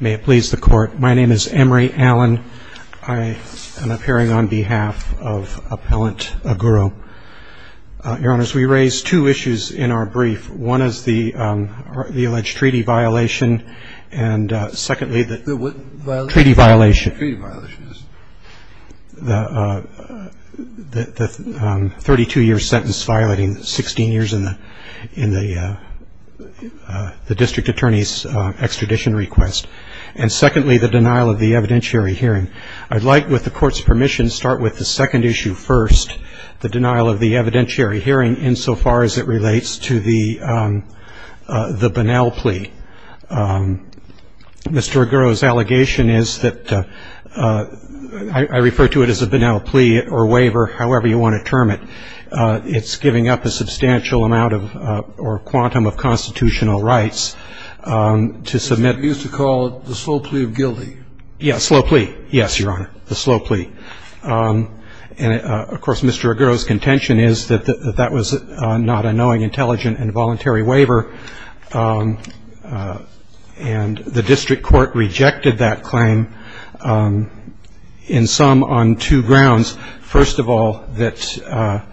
May it please the Court, my name is Emory Allen. I am appearing on behalf of Appellant Aguro. Your Honors, we raise two issues in our brief. One is the alleged treaty violation and secondly the... The what violation? Treaty violation. Treaty violation. The 32-year sentence violating 16 years in the District Attorney's extradition request. And secondly, the denial of the evidentiary hearing. I'd like, with the Court's permission, to start with the second issue first, the denial of the evidentiary hearing, insofar as it relates to the Bonnell plea. Mr. Aguro's allegation is that I refer to it as a Bonnell plea or waiver, however you want to term it. It's giving up a substantial amount of or a quantum of constitutional rights to submit... You used to call it the slow plea of guilty. Yes, slow plea. Yes, Your Honor, the slow plea. And, of course, Mr. Aguro's contention is that that was not a knowing, intelligent and voluntary waiver. And the District Court rejected that claim in sum on two grounds. First of all, that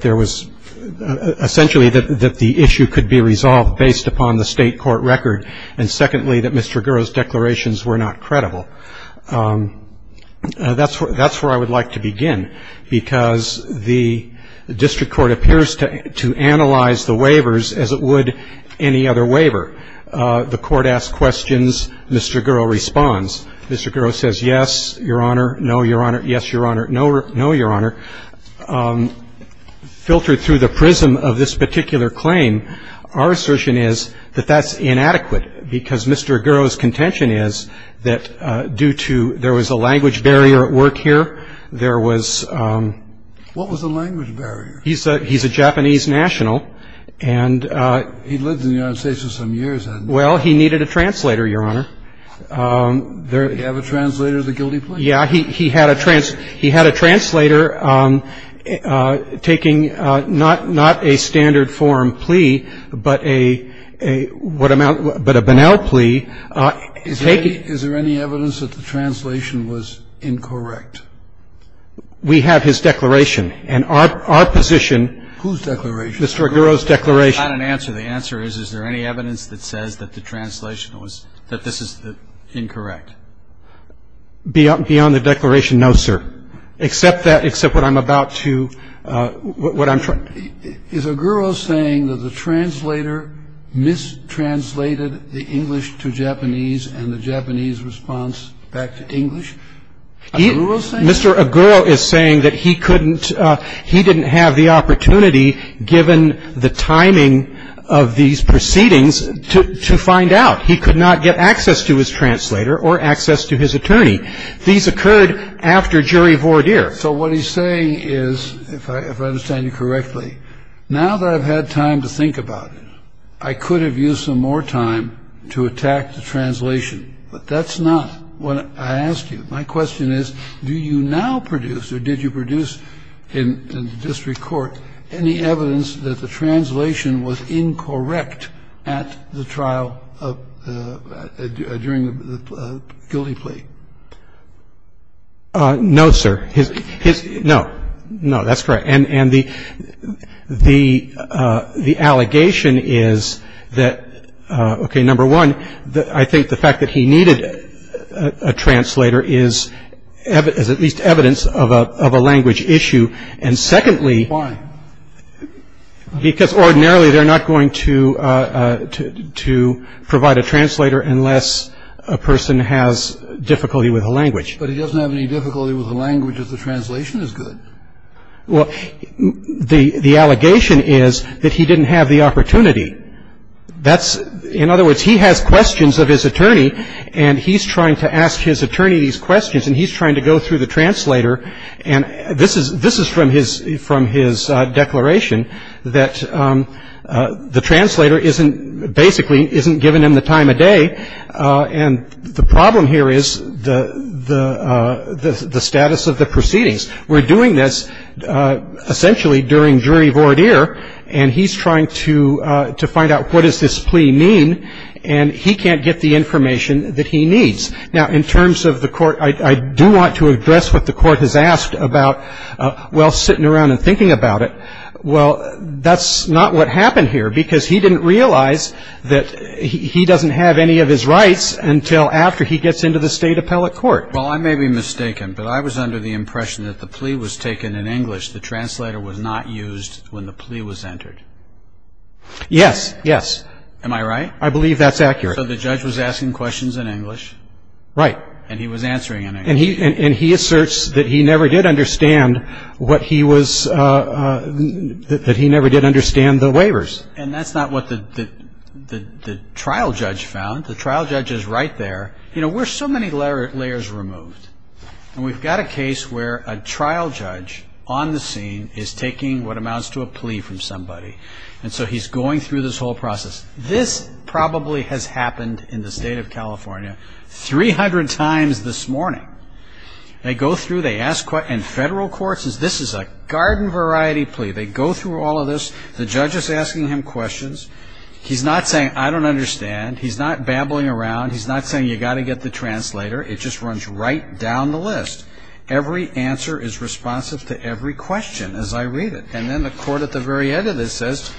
there was essentially that the issue could be resolved based upon the state court record. And secondly, that Mr. Aguro's declarations were not credible. That's where I would like to begin, because the District Court appears to analyze the waivers as it would any other waiver. The Court asks questions. Mr. Aguro responds. Mr. Aguro says, yes, Your Honor, no, Your Honor, yes, Your Honor, no, Your Honor. And I would like to finish by saying that, in an attempt to filter through the prism of this particular claim, our assertion is that that's inadequate. Because Mr. Aguro's contention is that due to there was a language barrier at work here, there was... What was the language barrier? He's a Japanese national, and... He lived in the United States for some years, hadn't he? Well, he needed a translator, Your Honor. Did he have a translator of the guilty plea? Yeah. He had a translator taking not a standard form plea, but a banal plea. Is there any evidence that the translation was incorrect? We have his declaration. And our position... Whose declaration? Mr. Aguro's declaration. That's not an answer. The answer is, is there any evidence that says that the translation was... That this is incorrect? Beyond the declaration, no, sir. Except that... Except what I'm about to... What I'm trying to... Is Aguro saying that the translator mistranslated the English to Japanese and the Japanese response back to English? Is Aguro saying that? Mr. Aguro is saying that he couldn't... He didn't have the opportunity, given the timing of these proceedings, to find out. He could not get access to his translator or access to his attorney. These occurred after jury voir dire. So what he's saying is, if I understand you correctly, now that I've had time to think about it, I could have used some more time to attack the translation. But that's not what I asked you. My question is, do you now produce, or did you produce in district court, any evidence that the translation was incorrect at the trial of... During the guilty plea? No, sir. His... No. No, that's correct. And the... The... The allegation is that... Okay, number one, I think the fact that he needed a translator is... Is at least evidence of a language issue. And secondly... Why? Because ordinarily they're not going to provide a translator unless a person has difficulty with a language. But he doesn't have any difficulty with a language if the translation is good. Well, the allegation is that he didn't have the opportunity. That's... In other words, he has questions of his attorney, and he's trying to ask his attorney these questions, and he's trying to go through the translator. And this is from his declaration, that the translator basically isn't giving him the time of day. And the problem here is the status of the proceedings. We're doing this essentially during jury voir dire, and he's trying to find out what does this plea mean, and he can't get the information that he needs. Now, in terms of the court, I do want to address what the court has asked about while sitting around and thinking about it. Well, that's not what happened here, because he didn't realize that he doesn't have any of his rights until after he gets into the state appellate court. Well, I may be mistaken, but I was under the impression that the plea was taken in English. The translator was not used when the plea was entered. Yes. Yes. Am I right? I believe that's accurate. So the judge was asking questions in English. Right. And he was answering in English. And he asserts that he never did understand what he was... that he never did understand the waivers. And that's not what the trial judge found. The trial judge is right there. You know, we're so many layers removed, and we've got a case where a trial judge on the scene is taking what amounts to a plea from somebody, and so he's going through this whole process. This probably has happened in the state of California 300 times this morning. They go through, they ask questions, and federal courts, this is a garden-variety plea. They go through all of this. The judge is asking him questions. He's not saying, I don't understand. He's not babbling around. He's not saying, you've got to get the translator. It just runs right down the list. Every answer is responsive to every question as I read it. And then the court at the very end of this says,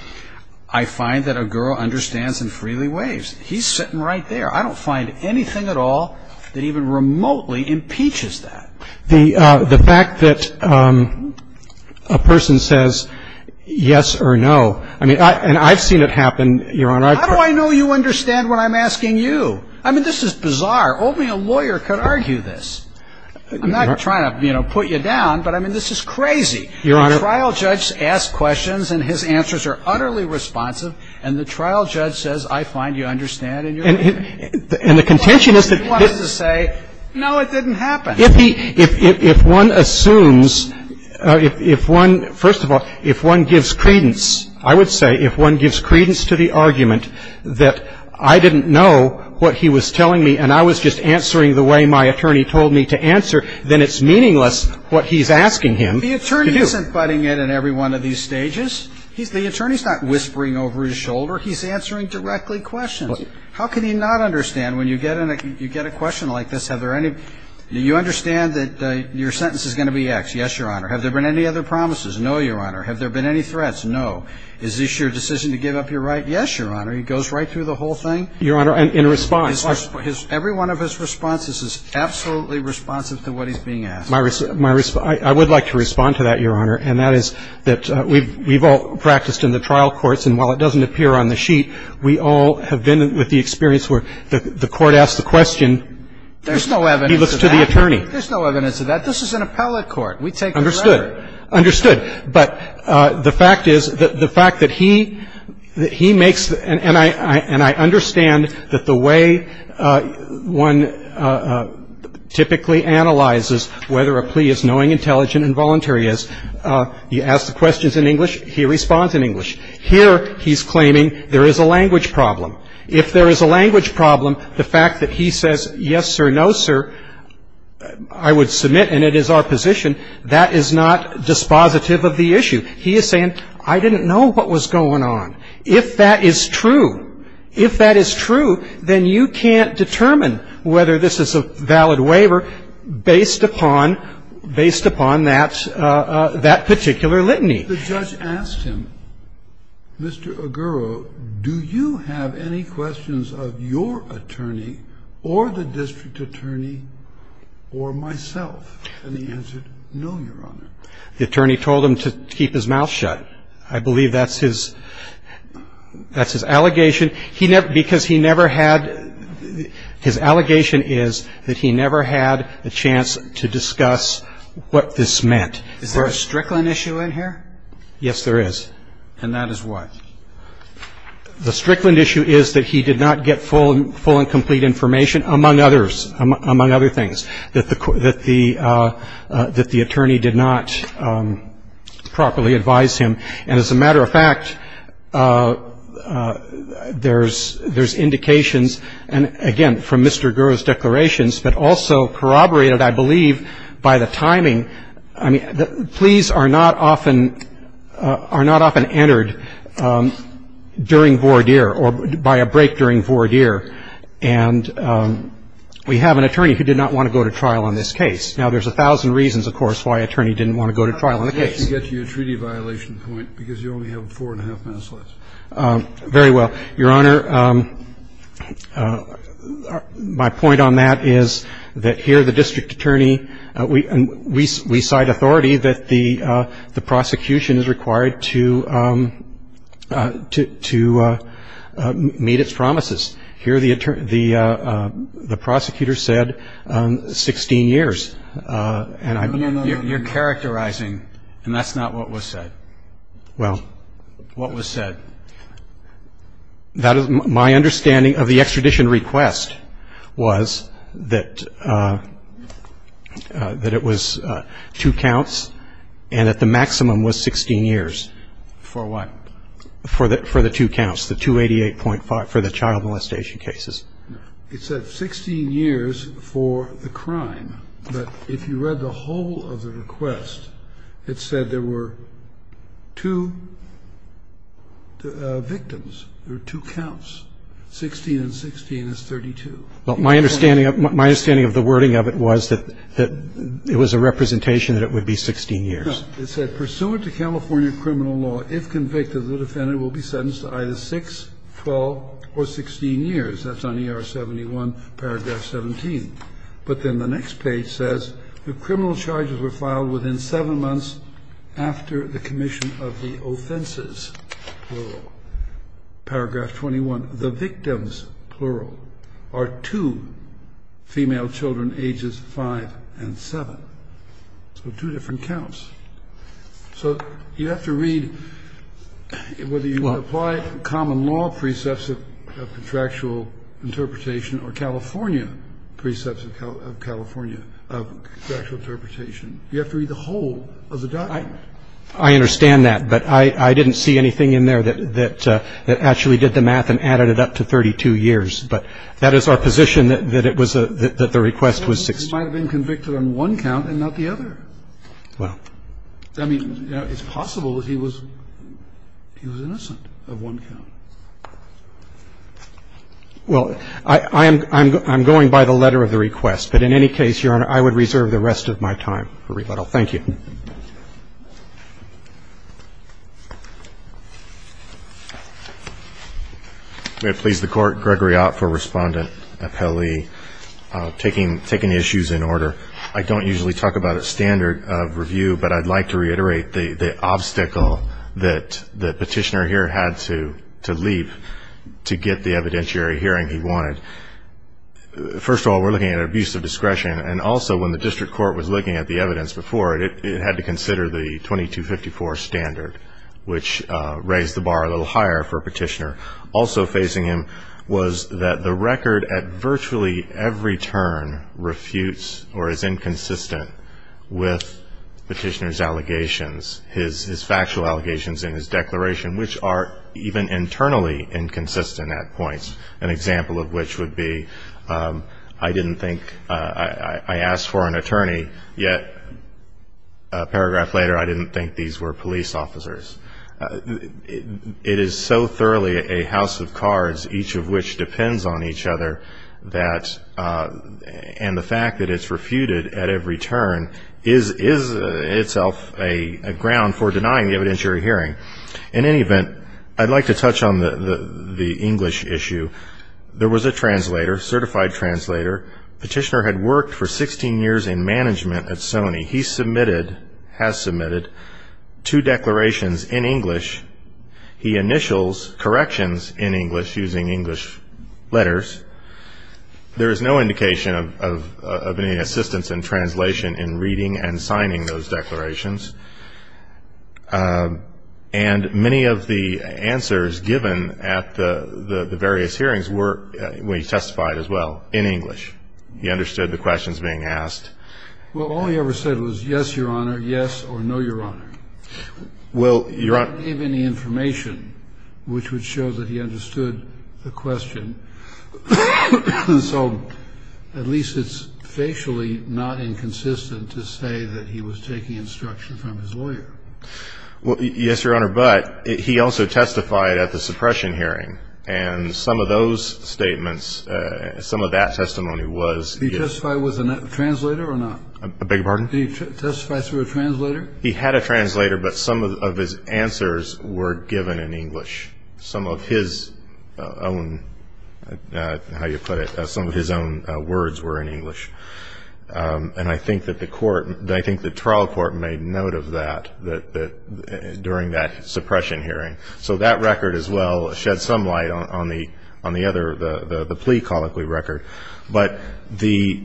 I find that a girl understands and freely waives. He's sitting right there. I don't find anything at all that even remotely impeaches that. The fact that a person says yes or no, I mean, and I've seen it happen, Your Honor. How do I know you understand what I'm asking you? I mean, this is bizarre. Only a lawyer could argue this. I'm not trying to, you know, put you down, but, I mean, this is crazy. Your Honor. The trial judge asks questions, and his answers are utterly responsive, and the trial judge says, I find you understand and you're free. And the contention is that he wants to say, no, it didn't happen. If he, if one assumes, if one, first of all, if one gives credence, I would say, if one gives credence to the argument that I didn't know what he was telling me, and I was just answering the way my attorney told me to answer, then it's meaningless what he's asking him to do. The attorney isn't butting in on every one of these stages. The attorney's not whispering over his shoulder. He's answering directly questions. How can he not understand? When you get a question like this, have there any, do you understand that your sentence is going to be X? Yes, Your Honor. Have there been any other promises? No, Your Honor. Have there been any threats? No. Is this your decision to give up your right? Yes, Your Honor. He goes right through the whole thing? Your Honor, in response. Every one of his responses is absolutely responsive to what he's being asked. My response, I would like to respond to that, Your Honor, and that is that we've all practiced in the trial courts, and while it doesn't appear on the sheet, we all have been with the experience where the court asks the question. There's no evidence of that. He looks to the attorney. This is an appellate court. We take the rhetoric. Understood. But the fact is, the fact that he makes, and I understand that the way one typically analyzes whether a plea is knowing, intelligent, and voluntary is you ask the questions in English, he responds in English. Here, he's claiming there is a language problem. If there is a language problem, the fact that he says, yes, sir, no, sir, I would submit, and it is our position, that is not dispositive of the issue. He is saying, I didn't know what was going on. If that is true, if that is true, then you can't determine whether this is a valid waiver based upon that particular litany. The judge asked him, Mr. Oguro, do you have any questions of your attorney or the district attorney or myself? And he answered, no, Your Honor. The attorney told him to keep his mouth shut. I believe that's his allegation. Because he never had his allegation is that he never had a chance to discuss what this meant. Is there a Strickland issue in here? Yes, there is. And that is what? The Strickland issue is that he did not get full and complete information, among other things, that the attorney did not properly advise him. And as a matter of fact, there's indications, again, from Mr. Oguro's declarations, but also corroborated, I believe, by the timing. I mean, pleas are not often entered during voir dire or by a break during voir dire. And we have an attorney who did not want to go to trial on this case. Now, there's a thousand reasons, of course, why an attorney didn't want to go to trial on the case. I'd like to get to your treaty violation point, because you only have four and a half minutes left. Very well. Your Honor, my point on that is that here the district attorney, we cite authority that the prosecution is required to meet its promises. Here the prosecutor said 16 years. You're characterizing, and that's not what was said. Well, what was said? That is my understanding of the extradition request was that it was two counts and that the maximum was 16 years. For what? For the two counts, the 288.5 for the child molestation cases. It said 16 years for the crime. But if you read the whole of the request, it said there were two victims. There were two counts, 16 and 16 is 32. Well, my understanding of the wording of it was that it was a representation that it would be 16 years. No. It said, pursuant to California criminal law, if convicted, the defendant will be sentenced to either 6, 12, or 16 years. That's on ER 71, paragraph 17. But then the next page says, the criminal charges were filed within seven months after the commission of the offenses, plural, paragraph 21. The victims, plural, are two female children ages 5 and 7. So two different counts. So you have to read whether you apply common law precepts of contractual interpretation or California precepts of contractual interpretation. You have to read the whole of the document. I understand that, but I didn't see anything in there that actually did the math and added it up to 32 years. But that is our position, that the request was 16 years. He might have been convicted on one count and not the other. Well. I mean, it's possible that he was innocent of one count. Well, I'm going by the letter of the request. But in any case, Your Honor, I would reserve the rest of my time for rebuttal. Thank you. May it please the Court. Gregory Ott for Respondent, appellee. Taking the issues in order. I don't usually talk about a standard of review, but I'd like to reiterate the obstacle that Petitioner here had to leap to get the evidentiary hearing he wanted. First of all, we're looking at abuse of discretion, and also when the district court was looking at the evidence before it, it had to consider the 2254 standard, which raised the bar a little higher for Petitioner. Also facing him was that the record at virtually every turn refutes or is inconsistent with Petitioner's allegations, his factual allegations and his declaration, which are even internally inconsistent at points, an example of which would be I didn't think I asked for an attorney, yet a paragraph later I didn't think these were police officers. It is so thoroughly a house of cards, each of which depends on each other, and the fact that it's refuted at every turn is itself a ground for denying the evidentiary hearing. In any event, I'd like to touch on the English issue. There was a translator, certified translator. Petitioner had worked for 16 years in management at Sony. He submitted, has submitted, two declarations in English. He initials corrections in English using English letters. There is no indication of any assistance in translation in reading and signing those declarations, and many of the answers given at the various hearings were, we testified as well, in English. He understood the questions being asked. Well, all he ever said was, yes, Your Honor, yes, or no, Your Honor. Well, Your Honor. He didn't give any information, which would show that he understood the question, so at least it's facially not inconsistent to say that he was taking instruction from his lawyer. Well, yes, Your Honor, but he also testified at the suppression hearing, and some of those statements, some of that testimony was. He testified with a translator or not? I beg your pardon? He testified through a translator? He had a translator, but some of his answers were given in English. Some of his own, how you put it, some of his own words were in English, and I think that the court, I think the trial court made note of that during that suppression hearing, so that record as well sheds some light on the other, the plea colloquy record, but the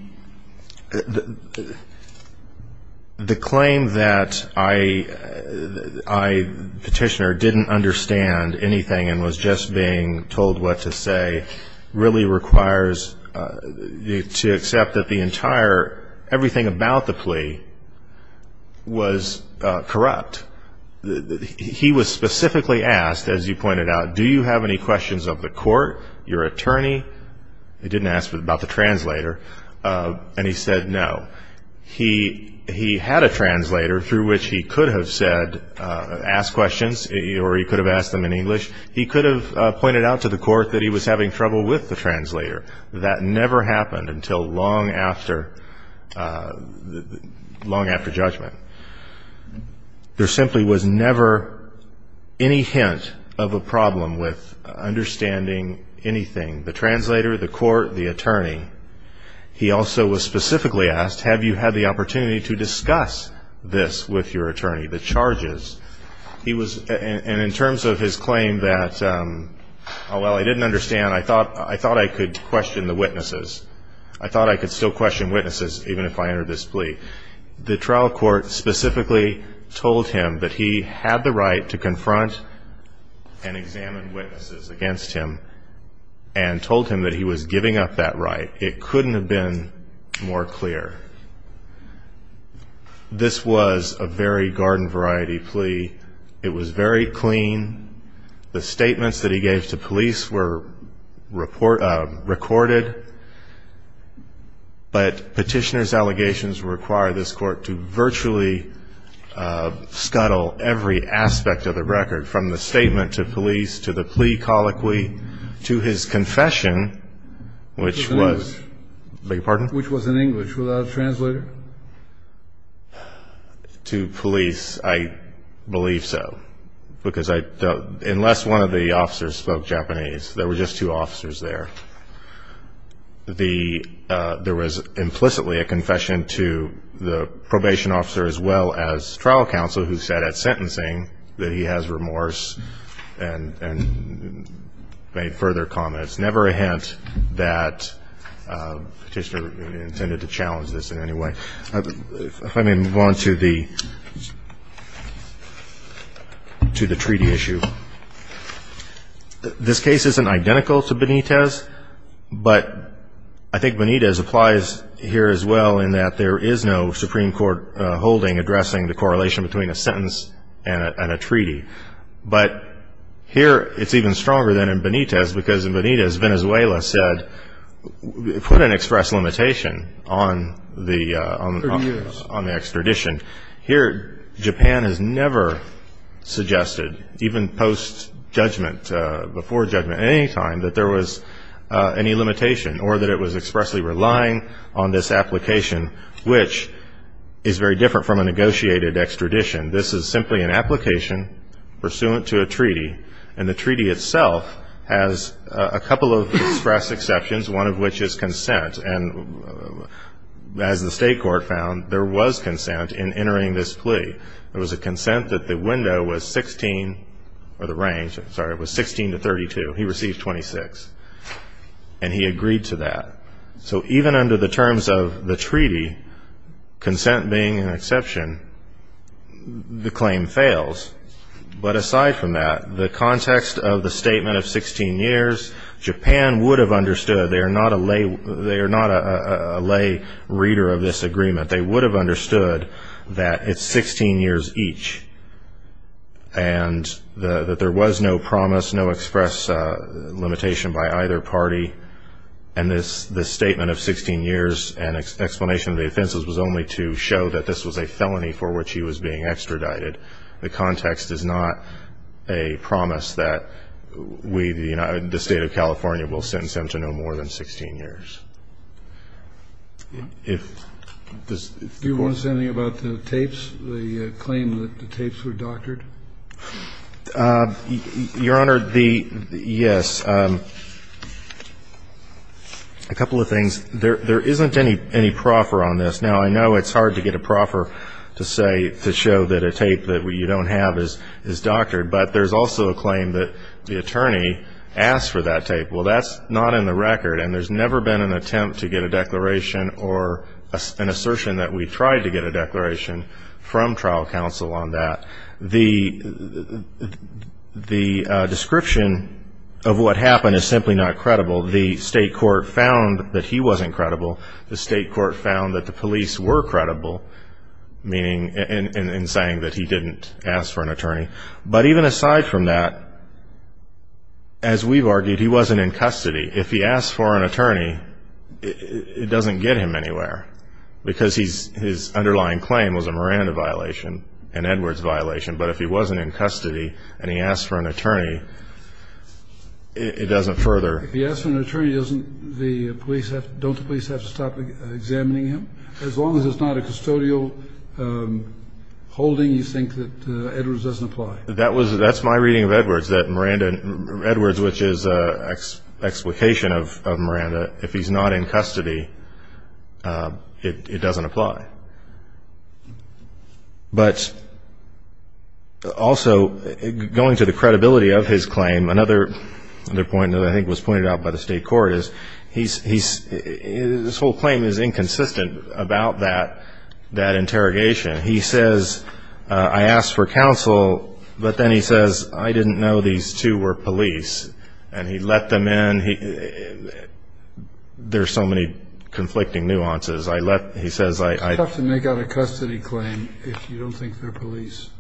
claim that I, Petitioner, didn't understand anything and was just being told what to say really requires you to accept that the entire, everything about the plea was corrupt. He was specifically asked, as you pointed out, do you have any questions of the court, your attorney? He didn't ask about the translator, and he said no. He had a translator through which he could have said, asked questions, or he could have asked them in English. He could have pointed out to the court that he was having trouble with the translator. That never happened until long after judgment. There simply was never any hint of a problem with understanding anything, the translator, the court, the attorney. He also was specifically asked, have you had the opportunity to discuss this with your attorney, the charges? He was, and in terms of his claim that, oh, well, I didn't understand. I thought I could question the witnesses. I thought I could still question witnesses even if I entered this plea. The trial court specifically told him that he had the right to confront and examine witnesses against him and told him that he was giving up that right. It couldn't have been more clear. This was a very garden-variety plea. It was very clean. The statements that he gave to police were recorded, but Petitioner's allegations require this court to virtually scuttle every aspect of the record, from the statement to police to the plea colloquy to his confession, which was an English without a translator, to police, I believe so, because I don't, unless one of the officers spoke Japanese. There were just two officers there. There was implicitly a confession to the probation officer as well as trial counsel, who said at sentencing that he has remorse and made further comments. Never a hint that Petitioner intended to challenge this in any way. If I may move on to the treaty issue. This case isn't identical to Benitez, but I think Benitez applies here as well in that there is no Supreme Court holding addressing the correlation between a sentence and a treaty. But here it's even stronger than in Benitez because in Benitez Venezuela said, put an express limitation on the extradition. Here Japan has never suggested, even post-judgment, before judgment, at any time that there was any limitation or that it was expressly relying on this application, which is very different from a negotiated extradition. This is simply an application pursuant to a treaty, and the treaty itself has a couple of express exceptions, one of which is consent. And as the state court found, there was consent in entering this plea. There was a consent that the window was 16 or the range, sorry, was 16 to 32. He received 26, and he agreed to that. So even under the terms of the treaty, consent being an exception, the claim fails. But aside from that, the context of the statement of 16 years, Japan would have understood they are not a lay reader of this agreement. They would have understood that it's 16 years each and that there was no promise, no express limitation by either party. And this statement of 16 years and explanation of the offenses was only to show that this was a felony for which he was being extradited. The context is not a promise that we, the State of California, will sentence him to no more than 16 years. If this court ---- Do you want to say anything about the tapes, the claim that the tapes were doctored? Your Honor, the ---- yes. A couple of things. There isn't any proffer on this. Now, I know it's hard to get a proffer to show that a tape that you don't have is doctored, but there's also a claim that the attorney asked for that tape. Well, that's not in the record, and there's never been an attempt to get a declaration or an assertion that we tried to get a declaration from trial counsel on that. The description of what happened is simply not credible. The state court found that he wasn't credible. The state court found that the police were credible, meaning in saying that he didn't ask for an attorney. But even aside from that, as we've argued, he wasn't in custody. If he asked for an attorney, it doesn't get him anywhere because his underlying claim was a Miranda violation, an Edwards violation. But if he wasn't in custody and he asked for an attorney, it doesn't further ---- As long as it's not a custodial holding, you think that Edwards doesn't apply? That's my reading of Edwards, that Edwards, which is an explication of Miranda, if he's not in custody, it doesn't apply. But also going to the credibility of his claim, another point that I think was pointed out by the state court is his whole claim is inconsistent about that interrogation. He says, I asked for counsel, but then he says, I didn't know these two were police, and he let them in. There are so many conflicting nuances. He says, I ---- It's tough to make out a custody claim if you don't think they're police.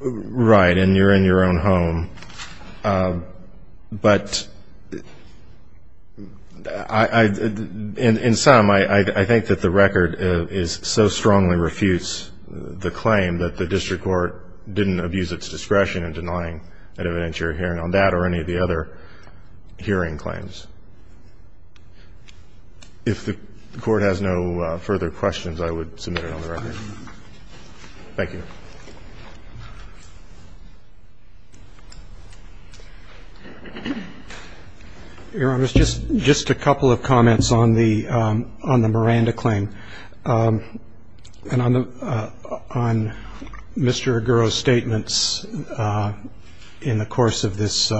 Right, and you're in your own home. But in sum, I think that the record is so strongly refutes the claim that the district court didn't abuse its discretion in denying an evidentiary hearing on that or any of the other hearing claims. If the court has no further questions, I would submit it on the record. Thank you. Your Honor, just a couple of comments on the Miranda claim. And on Mr. Aguro's statements in the course of this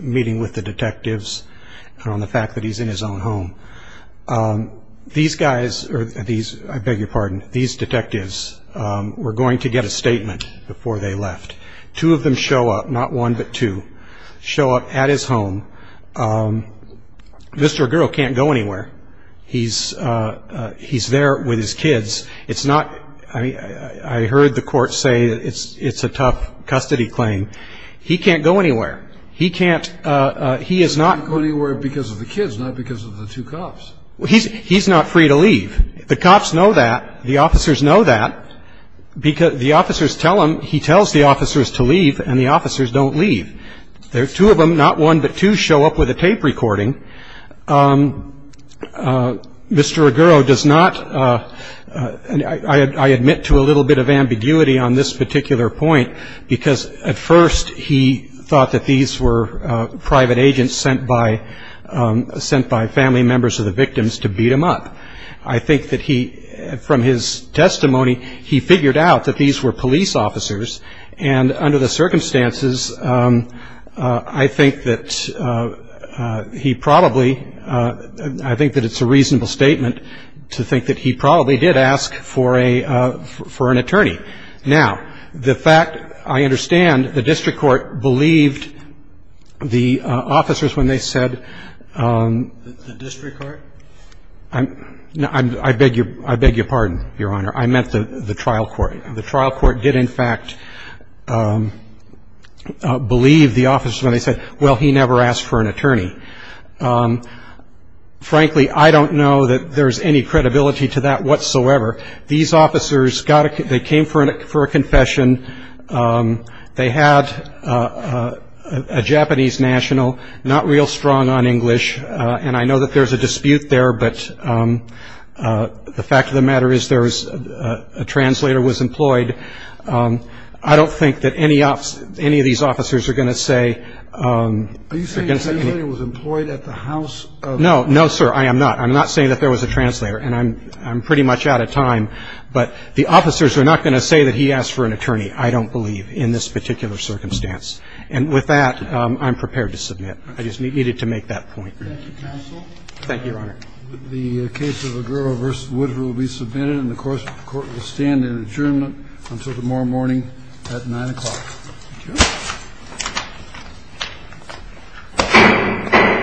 meeting with the detectives, and on the fact that he's in his own home. These guys, I beg your pardon, these detectives were going to get a statement before they left. Two of them show up, not one but two, show up at his home. Mr. Aguro can't go anywhere. He's there with his kids. I heard the court say it's a tough custody claim. He can't go anywhere. He can't, he is not. He can't go anywhere because of the kids, not because of the two cops. He's not free to leave. The cops know that. The officers know that. The officers tell him, he tells the officers to leave, and the officers don't leave. There are two of them, not one but two, show up with a tape recording. Mr. Aguro does not, I admit to a little bit of ambiguity on this particular point, because at first he thought that these were private agents sent by family members of the victims to beat him up. I think that he, from his testimony, he figured out that these were police officers, and under the circumstances I think that he probably, I think that it's a reasonable statement to think that he probably did ask for an attorney. Now, the fact, I understand the district court believed the officers when they said. The district court? I beg your pardon, Your Honor. I meant the trial court. The trial court did, in fact, believe the officers when they said, well, he never asked for an attorney. Frankly, I don't know that there's any credibility to that whatsoever. These officers got a, they came for a confession. They had a Japanese national, not real strong on English, and I know that there's a dispute there, but the fact of the matter is there was, a translator was employed. I don't think that any of these officers are going to say. Are you saying a translator was employed at the house? No, no, sir, I am not. I'm not saying that there was a translator, and I'm pretty much out of time, but the officers are not going to say that he asked for an attorney, I don't believe, in this particular circumstance. And with that, I'm prepared to submit. I just needed to make that point. Thank you, counsel. Thank you, Your Honor. The case of Aguro v. Woodruff will be submitted, and the court will stand in adjournment until tomorrow morning at 9 o'clock. Thank you.